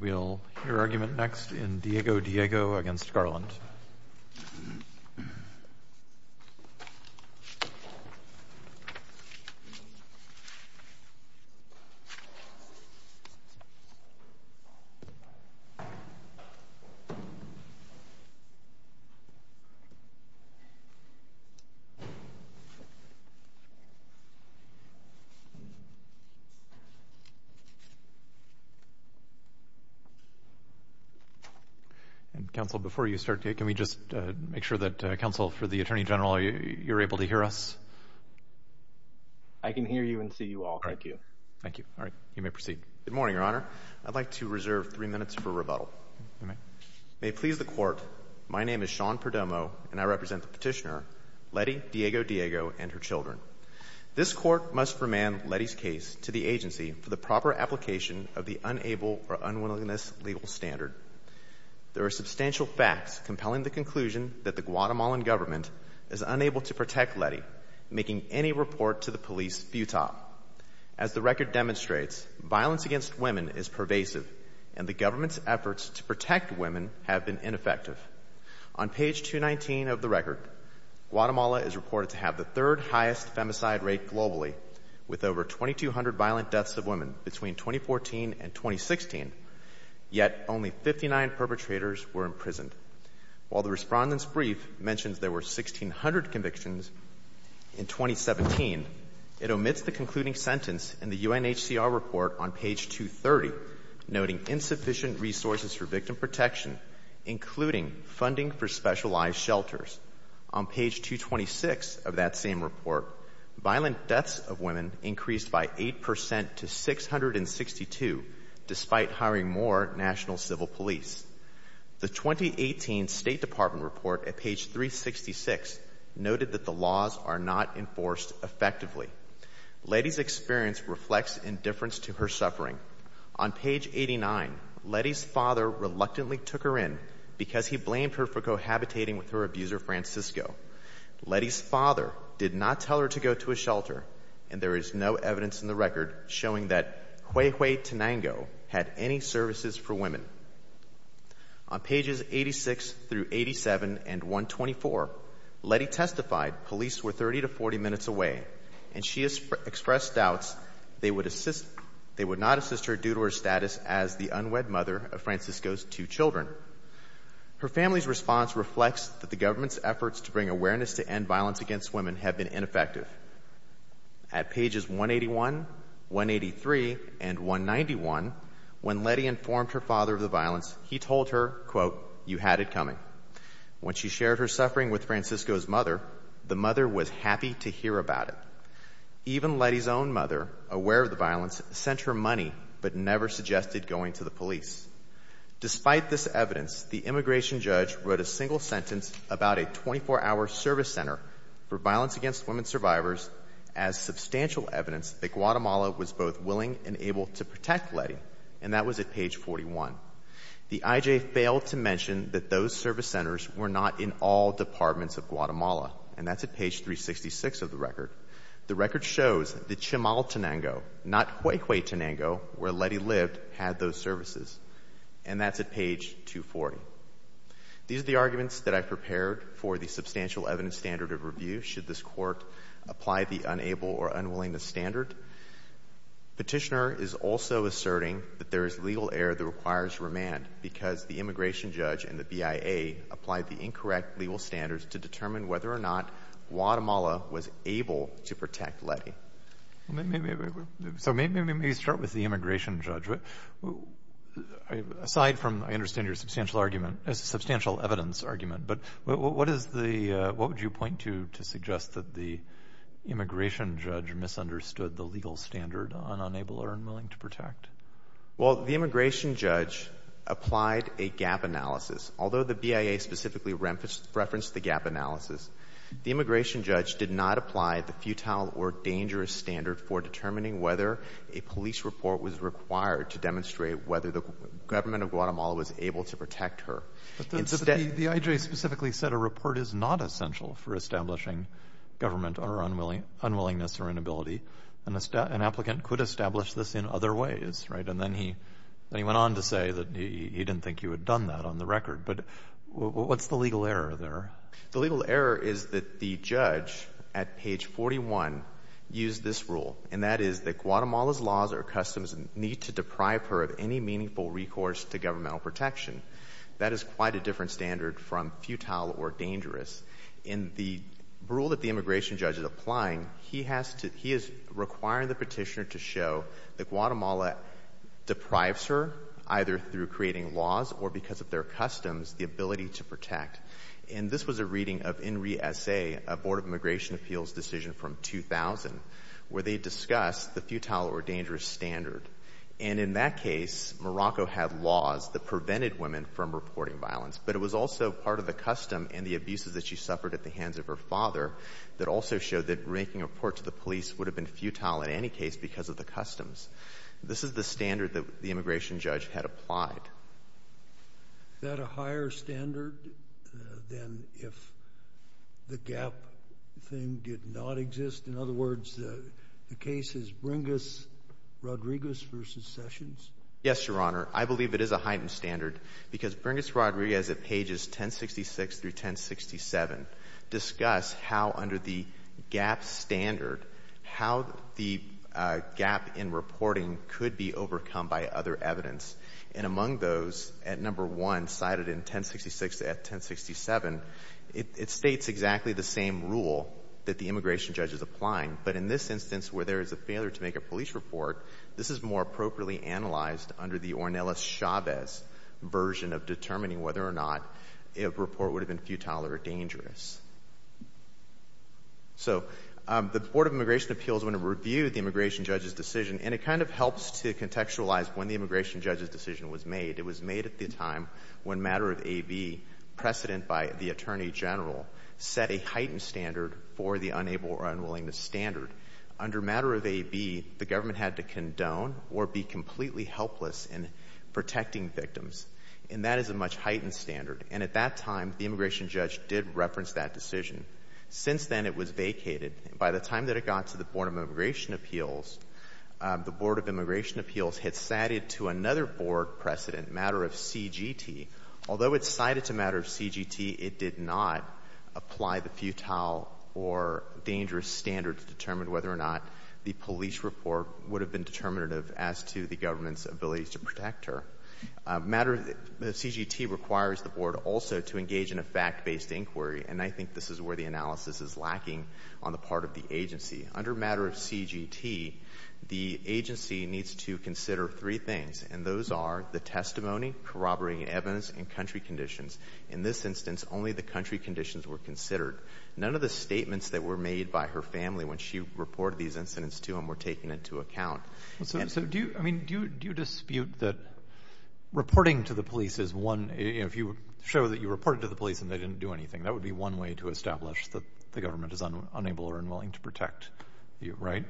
We'll hear argument next in Diego-Diego v. Garland. And, Counsel, before you start, can we just make sure that, Counsel, for the Attorney General, you're able to hear us? I can hear you and see you all. Thank you. Thank you. All right. You may proceed. Good morning, Your Honor. I'd like to reserve three minutes for rebuttal. You may. May it please the Court, my name is Sean Perdomo, and I represent the petitioner, Lettie Diego-Diego and her children. This Court must remand Lettie's case to the agency for the proper application of the Unable or Unwillingness Legal Standard. There are substantial facts compelling the conclusion that the Guatemalan government is unable to protect Lettie, making any report to the police futile. As the record demonstrates, violence against women is pervasive, and the government's efforts to protect women have been ineffective. On page 219 of the record, Guatemala is reported to have the third highest femicide rate globally, with over 2,200 violent deaths of women between 2014 and 2016, yet only 59 perpetrators were imprisoned. While the Respondent's brief mentions there were 1,600 convictions in 2017, it omits the concluding sentence in the UNHCR report on page 230, noting insufficient resources for protection, including funding for specialized shelters. On page 226 of that same report, violent deaths of women increased by 8 percent to 662, despite hiring more national civil police. The 2018 State Department report at page 366 noted that the laws are not enforced effectively. Lettie's experience reflects indifference to her suffering. On page 89, Lettie's father reluctantly took her in because he blamed her for cohabitating with her abuser Francisco. Lettie's father did not tell her to go to a shelter, and there is no evidence in the record showing that Huehue Tenango had any services for women. On pages 86 through 87 and 124, Lettie testified police were 30 to 40 minutes away, and she expressed doubts they would not assist her due to her status as the unwed mother of Francisco's two children. Her family's response reflects that the government's efforts to bring awareness to end violence against women have been ineffective. At pages 181, 183, and 191, when Lettie informed her father of the violence, he told her, quote, you had it coming. When she shared her suffering with Francisco's mother, the mother was happy to hear about it. Even Lettie's own mother, aware of the violence, sent her money but never suggested going to the police. Despite this evidence, the immigration judge wrote a single sentence about a 24-hour service center for violence against women survivors as substantial evidence that Guatemala was both willing and able to protect Lettie, and that was at page 41. The IJ failed to mention that those service centers were not in all departments of Guatemala, and that's at page 366 of the record. The record shows the Chimaltenango, not Huehuetenango, where Lettie lived, had those services. And that's at page 240. These are the arguments that I've prepared for the substantial evidence standard of review should this Court apply the unable or unwillingness standard. Petitioner is also asserting that there is legal error that requires remand because the immigration judge and the BIA applied the incorrect legal standards to determine whether or not Guatemala was able to protect Lettie. So maybe we start with the immigration judge. Aside from, I understand your substantial argument, substantial evidence argument, but what is the, what would you point to to suggest that the immigration judge misunderstood the legal standard on unable or unwilling to protect? Well, the immigration judge applied a gap analysis. Although the BIA specifically referenced the gap analysis, the immigration judge did not apply the futile or dangerous standard for determining whether a police report was required to demonstrate whether the government of Guatemala was able to protect her. The IJ specifically said a report is not essential for establishing government or unwillingness or inability. An applicant could establish this in other ways, right? And then he went on to say that he didn't think you had done that on the record. But what's the legal error there? The legal error is that the judge at page 41 used this rule, and that is that Guatemala's laws or customs need to deprive her of any meaningful recourse to governmental protection. That is quite a different standard from futile or dangerous. In the rule that the immigration judge is applying, he has to, he is requiring the petitioner to show that Guatemala deprives her, either through creating laws or because of their customs, the ability to protect. And this was a reading of INRI-SA, a Board of Immigration Appeals decision from 2000, where they discussed the futile or dangerous standard. And in that case, Morocco had laws that prevented women from reporting violence. But it was also part of the custom and the abuses that she suffered at the hands of her father that also showed that making a report to the police would have been futile in any case because of the customs. This is the standard that the immigration judge had applied. Is that a higher standard than if the gap thing did not exist? In other words, the case is Bringas-Rodriguez v. Sessions? Yes, Your Honor. I believe it is a heightened standard because Bringas-Rodriguez at pages 1066 through 1067 discuss how under the gap standard, how the gap in reporting could be overcome by other evidence. And among those, at number one, cited in 1066 to 1067, it states exactly the same rule that the immigration judge is applying. But in this instance, where there is a failure to make a police report, this is more appropriately analyzed under the Ornelas-Chavez version of determining whether or not a report would have been futile or dangerous. So the Board of Immigration Appeals, when it reviewed the immigration judge's decision, and it kind of helps to contextualize when the immigration judge's decision was made. It was made at the time when matter of AV, precedent by the Attorney General, set a heightened standard for the unable or unwillingness standard. Under matter of AV, the government had to condone or be completely helpless in protecting victims. And that is a much heightened standard. And at that time, the immigration judge did reference that decision. Since then, it was vacated. And by the time that it got to the Board of Immigration Appeals, the Board of Immigration Appeals had cited to another board precedent, matter of CGT. Although it cited to matter of CGT, it did not apply the futile or dangerous standard to determine whether or not the police report would have been determinative as to the government's ability to protect her. Matter of CGT requires the board also to engage in a fact-based inquiry, and I think this is where the analysis is lacking on the part of the agency. Under matter of CGT, the agency needs to consider three things, and those are the testimony, corroborating evidence, and country conditions. In this instance, only the country conditions were considered. None of the statements that were made by her family when she reported these incidents to him were taken into account. And so do you, I mean, do you dispute that reporting to the police is one, if you show that you reported to the police and they didn't do anything, that would be one way to establish that the government is unable or unwilling to protect you, right?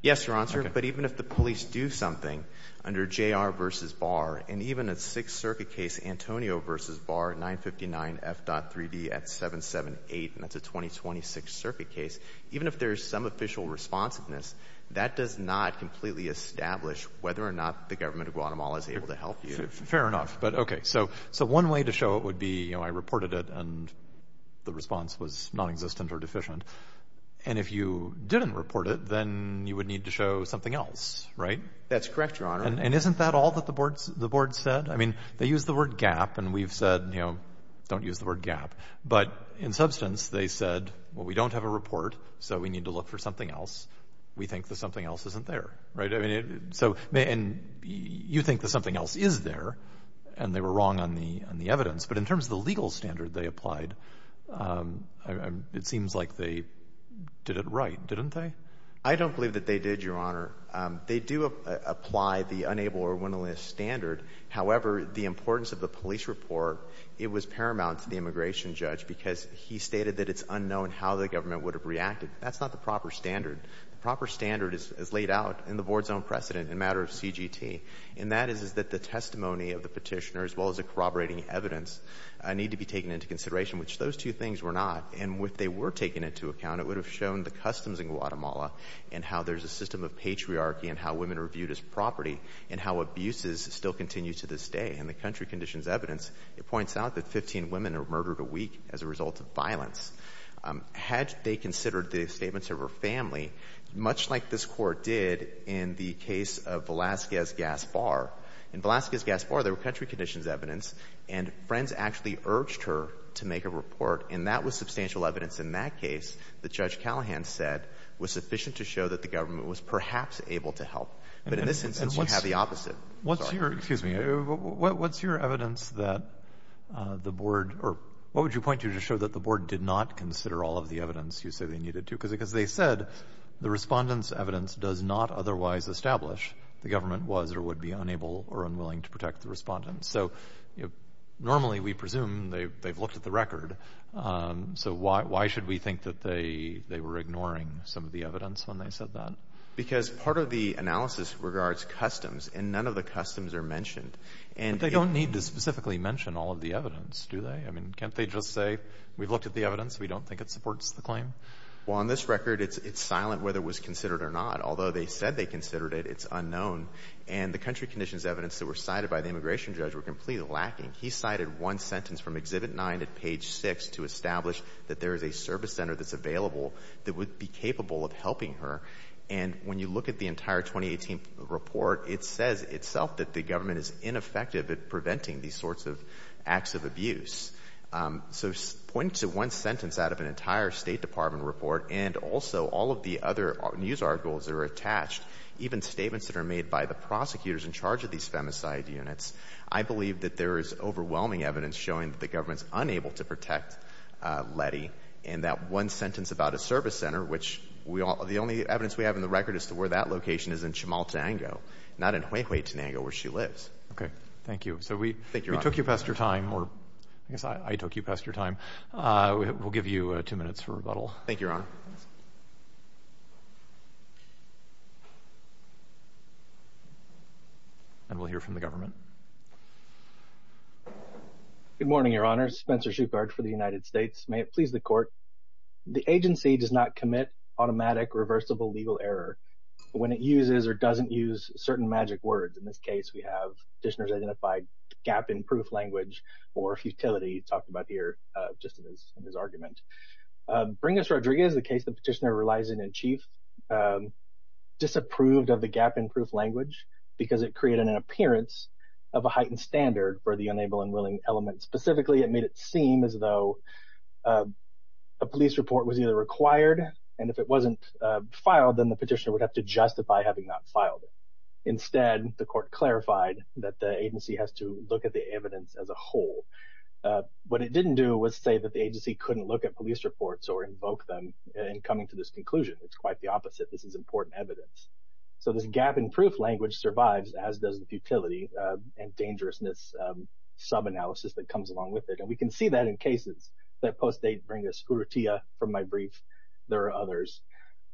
Yes, Your Honor, but even if the police do something, under JR versus Barr, and even at Sixth Circuit case, Antonio versus Barr, 959F.3D at 778, and that's a 2026 circuit case, even if there's some official responsiveness, that does not completely establish whether or not the government of Guatemala is able to help you. Fair enough. But okay, so one way to show it would be, you know, I reported it and the response was nonexistent or deficient. And if you didn't report it, then you would need to show something else, right? That's correct, Your Honor. And isn't that all that the board said? I mean, they used the word gap, and we've said, you know, don't use the word gap. But in substance, they said, well, we don't have a report, so we need to look for something else. We think that something else isn't there, right? So you think that something else is there, and they were wrong on the evidence, but in terms of the legal standard they applied, it seems like they did it right, didn't they? I don't believe that they did, Your Honor. They do apply the unable or willingness standard. However, the importance of the police report, it was paramount to the immigration judge because he stated that it's unknown how the government would have reacted. That's not the proper standard. The proper standard is laid out in the board's own precedent in a matter of CGT, and that is that the testimony of the petitioner, as well as the corroborating evidence, need to be taken into consideration, which those two things were not. And if they were taken into account, it would have shown the customs in Guatemala and how there's a system of patriarchy and how women are viewed as property and how abuses still continue to this day. In the country conditions evidence, it points out that 15 women are murdered a week as a result of violence. Had they considered the statements of her family, much like this Court did in the case of Velazquez-Gaspar, in Velazquez-Gaspar there were country conditions evidence, and Friends actually urged her to make a report, and that was substantial evidence in that case that Judge Callahan said was sufficient to show that the government was perhaps able to help. But in this instance, you have the opposite. What's your, excuse me, what's your evidence that the board, or what would you point to to show that the board did not consider all of the evidence you say they needed to? Because they said the respondent's evidence does not otherwise establish the government was or would be unable or unwilling to protect the respondent. So, normally we presume they've looked at the record. So why should we think that they were ignoring some of the evidence when they said that? Because part of the analysis regards customs, and none of the customs are mentioned. And they don't need to specifically mention all of the evidence, do they? I mean, can't they just say, we've looked at the evidence, we don't think it supports the claim? Well, on this record, it's silent whether it was considered or not. Although they said they considered it, it's unknown. And the country conditions evidence that were cited by the immigration judge were completely lacking. He cited one sentence from Exhibit 9 at page 6 to establish that there is a service center that's available that would be capable of helping her. And when you look at the entire 2018 report, it says itself that the government is ineffective at preventing these sorts of acts of abuse. So pointing to one sentence out of an entire State Department report, and also all of the other news articles that are attached, even statements that are made by the prosecutors in charge of these femicide units, I believe that there is overwhelming evidence showing that the government's unable to protect Letty. And that one sentence about a service center, which the only evidence we have in the record is to where that location is in Chamal Tango, not in Huehuetenango, where she lives. Thank you. So we took you past your time, or I guess I took you past your time. We'll give you two minutes for rebuttal. Thank you, Your Honor. And we'll hear from the government. Good morning, Your Honor. Spencer Shoupard for the United States. May it please the Court. The agency does not commit automatic reversible legal error when it uses or doesn't use certain magic words. In this case, we have petitioner's identified gap in proof language or futility, talked about here just in his argument. Bringus-Rodriguez, the case the petitioner relies in in chief, disapproved of the gap in proof language because it created an appearance of a heightened standard for the unable and willing element. Specifically, it made it seem as though a police report was either required, and if it wasn't filed, then the petitioner would have to justify having not filed it. Instead, the Court clarified that the agency has to look at the evidence as a whole. What it didn't do was say that the agency couldn't look at police reports or invoke them in coming to this conclusion. It's quite the opposite. This is important evidence. So, this gap in proof language survives, as does the futility and dangerousness sub-analysis that comes along with it. And we can see that in cases that postdate Bringus Urrutia from my brief. There are others.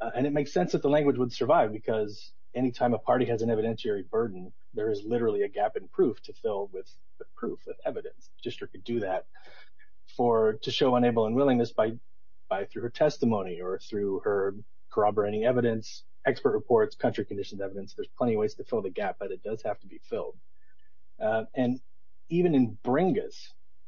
And it makes sense that the language would survive because any time a party has an evidentiary burden, there is literally a gap in proof to fill with the proof, with evidence. The Magistrate could do that to show unable and willingness by through her testimony or through her corroborating evidence, expert reports, country-conditioned evidence. There's plenty of ways to fill the gap, but it does have to be filled. And even in Bringus,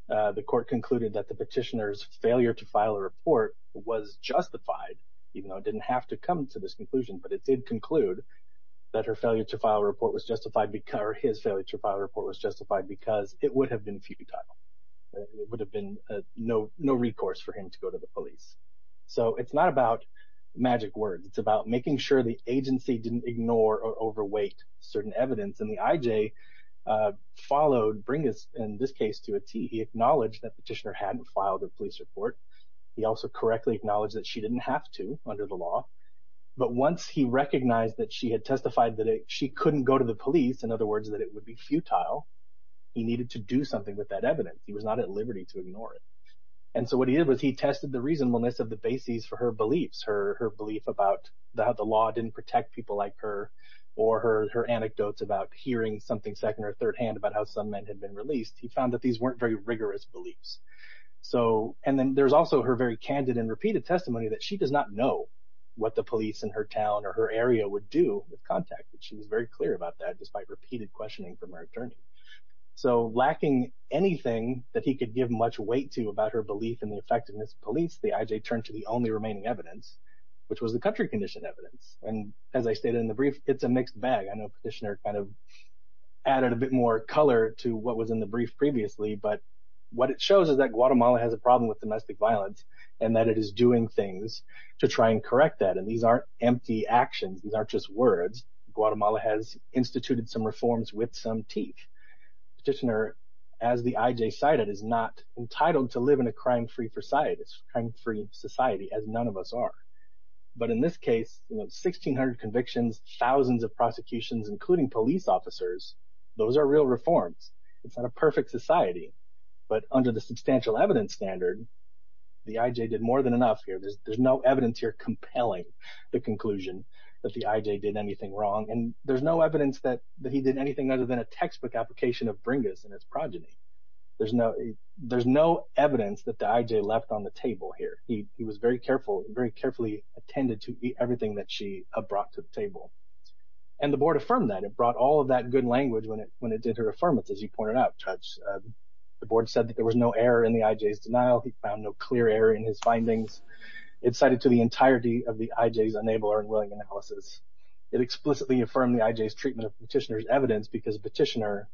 the Court concluded that the petitioner's failure to file a report was justified, even though it didn't have to come to this conclusion, but it did conclude that her failure to file a report was justified because, or his failure to file a report was justified because it would have been futile, it would have been no recourse for him to go to the police. So, it's not about magic words. It's about making sure the agency didn't ignore or overweight certain evidence. And the IJ followed Bringus, in this case, to a T. He acknowledged that the petitioner hadn't filed a police report. He also correctly acknowledged that she didn't have to under the law. But once he recognized that she had testified that she couldn't go to the police, in other words, that it would be futile, he needed to do something with that evidence. He was not at liberty to ignore it. And so, what he did was he tested the reasonableness of the bases for her beliefs, her belief about the law didn't protect people like her or her anecdotes about hearing something second or third-hand about how some men had been released. He found that these weren't very rigorous beliefs. So, and then there's also her very candid and repeated testimony that she does not know what the police in her town or her area would do if contacted. She was very clear about that despite repeated questioning from her attorney. So, lacking anything that he could give much weight to about her belief in the effectiveness of police, the IJ turned to the only remaining evidence, which was the country condition evidence. And as I stated in the brief, it's a mixed bag. I know the petitioner kind of added a bit more color to what was in the brief previously, but what it shows is that Guatemala has a problem with domestic violence and that it is doing things to try and correct that. And these aren't empty actions, these aren't just words. Guatemala has instituted some reforms with some teeth. Petitioner, as the IJ cited, is not entitled to live in a crime-free society as none of us are. But in this case, 1,600 convictions, thousands of prosecutions, including police officers, those are real reforms. It's not a perfect society. But under the substantial evidence standard, the IJ did more than enough here. There's no evidence here compelling the conclusion that the IJ did anything wrong. And there's no evidence that he did anything other than a textbook application of Bringus and his progeny. There's no evidence that the IJ left on the table here. He was very careful, very carefully attended to everything that she brought to the table. And the board affirmed that. It brought all of that good language when it did her affirmance, as you pointed out, Judge. The board said that there was no error in the IJ's denial. He found no clear error in his findings. It cited to the entirety of the IJ's unable or unwilling analysis. It explicitly affirmed the IJ's treatment of Petitioner's evidence because Petitioner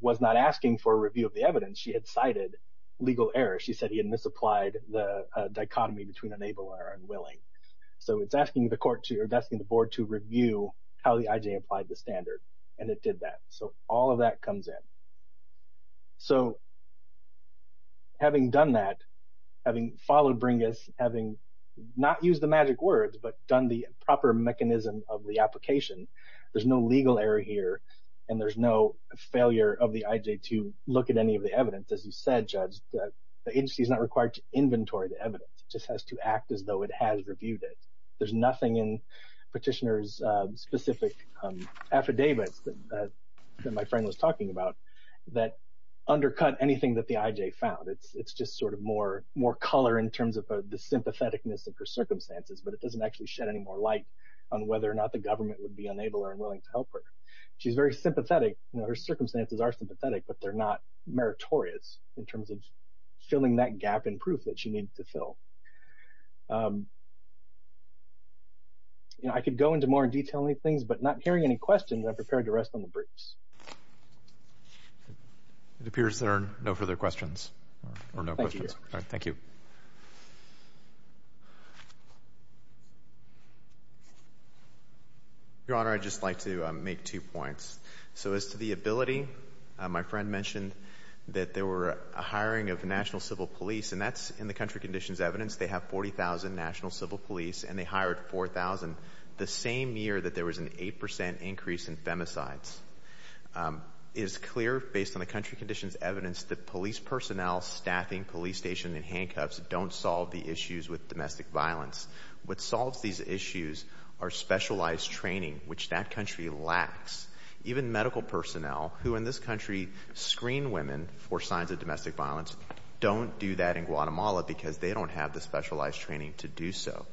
was not asking for a review of the evidence. She had cited legal error. She said he had misapplied the dichotomy between unable or unwilling. So it's asking the board to review how the IJ applied the standard. And it did that. So all of that comes in. So having done that, having followed Bringus, having not used the magic words but done the proper mechanism of the application, there's no legal error here and there's no failure of the IJ to look at any of the evidence. As you said, Judge, the agency is not required to inventory the evidence. It just has to act as though it has reviewed it. There's nothing in Petitioner's specific affidavits that my friend was talking about that undercut anything that the IJ found. It's just sort of more color in terms of the sympatheticness of her circumstances, but it doesn't actually shed any more light on whether or not the government would be unable or unwilling to help her. She's very sympathetic. Her circumstances are sympathetic, but they're not meritorious in terms of filling that gap in proof that she needed to fill. I could go into more detail on these things, but not hearing any questions, I'm prepared to rest on the briefs. It appears there are no further questions or no questions. Thank you. Your Honor, I'd just like to make two points. So as to the ability, my friend mentioned that there were a hiring of the National Civil Police, and that's in the country conditions evidence. They have 40,000 National Civil Police, and they hired 4,000 the same year that there was an 8 percent increase in femicides. It is clear, based on the country conditions evidence, that police personnel staffing police stations and handcuffs don't solve the issues with domestic violence. What solves these issues are specialized training, which that country lacks. Even medical personnel, who in this country screen women for signs of domestic violence, don't do that in Guatemala because they don't have the specialized training to do so.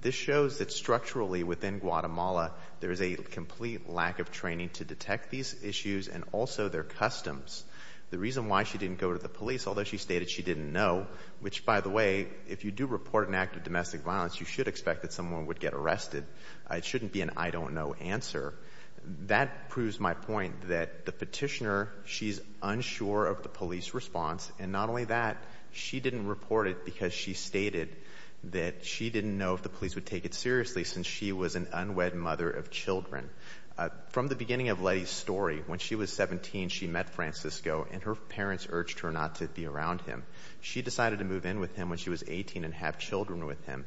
This shows that structurally within Guatemala, there is a complete lack of training to detect these issues and also their customs. The reason why she didn't go to the police, although she stated she didn't know, which by the way, if you do report an act of domestic violence, you should expect that someone would get arrested. It shouldn't be an I don't know answer. That proves my point that the petitioner, she's unsure of the police response, and not only that, she didn't report it because she stated that she didn't know if the police would take it seriously since she was an unwed mother of children. From the beginning of Letty's story, when she was 17, she met Francisco, and her parents urged her not to be around him. She decided to move in with him when she was 18 and have children with him.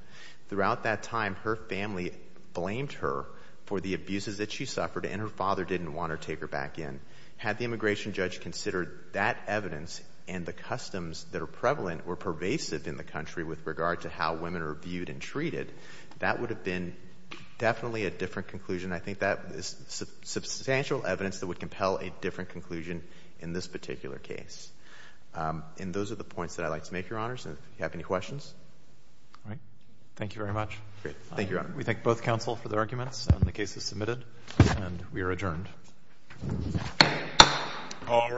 Throughout that time, her family blamed her for the abuses that she suffered, and her father didn't want her to take her back in. Had the immigration judge considered that evidence and the customs that are prevalent or pervasive in the country with regard to how women are viewed and treated, that would have been definitely a different conclusion. I think that is substantial evidence that would compel a different conclusion in this particular case. And those are the points that I'd like to make, Your Honors, and if you have any questions. All right. Thank you very much. Thank you, Your Honor. We thank both counsel for the arguments and the cases submitted, and we are adjourned. All rise.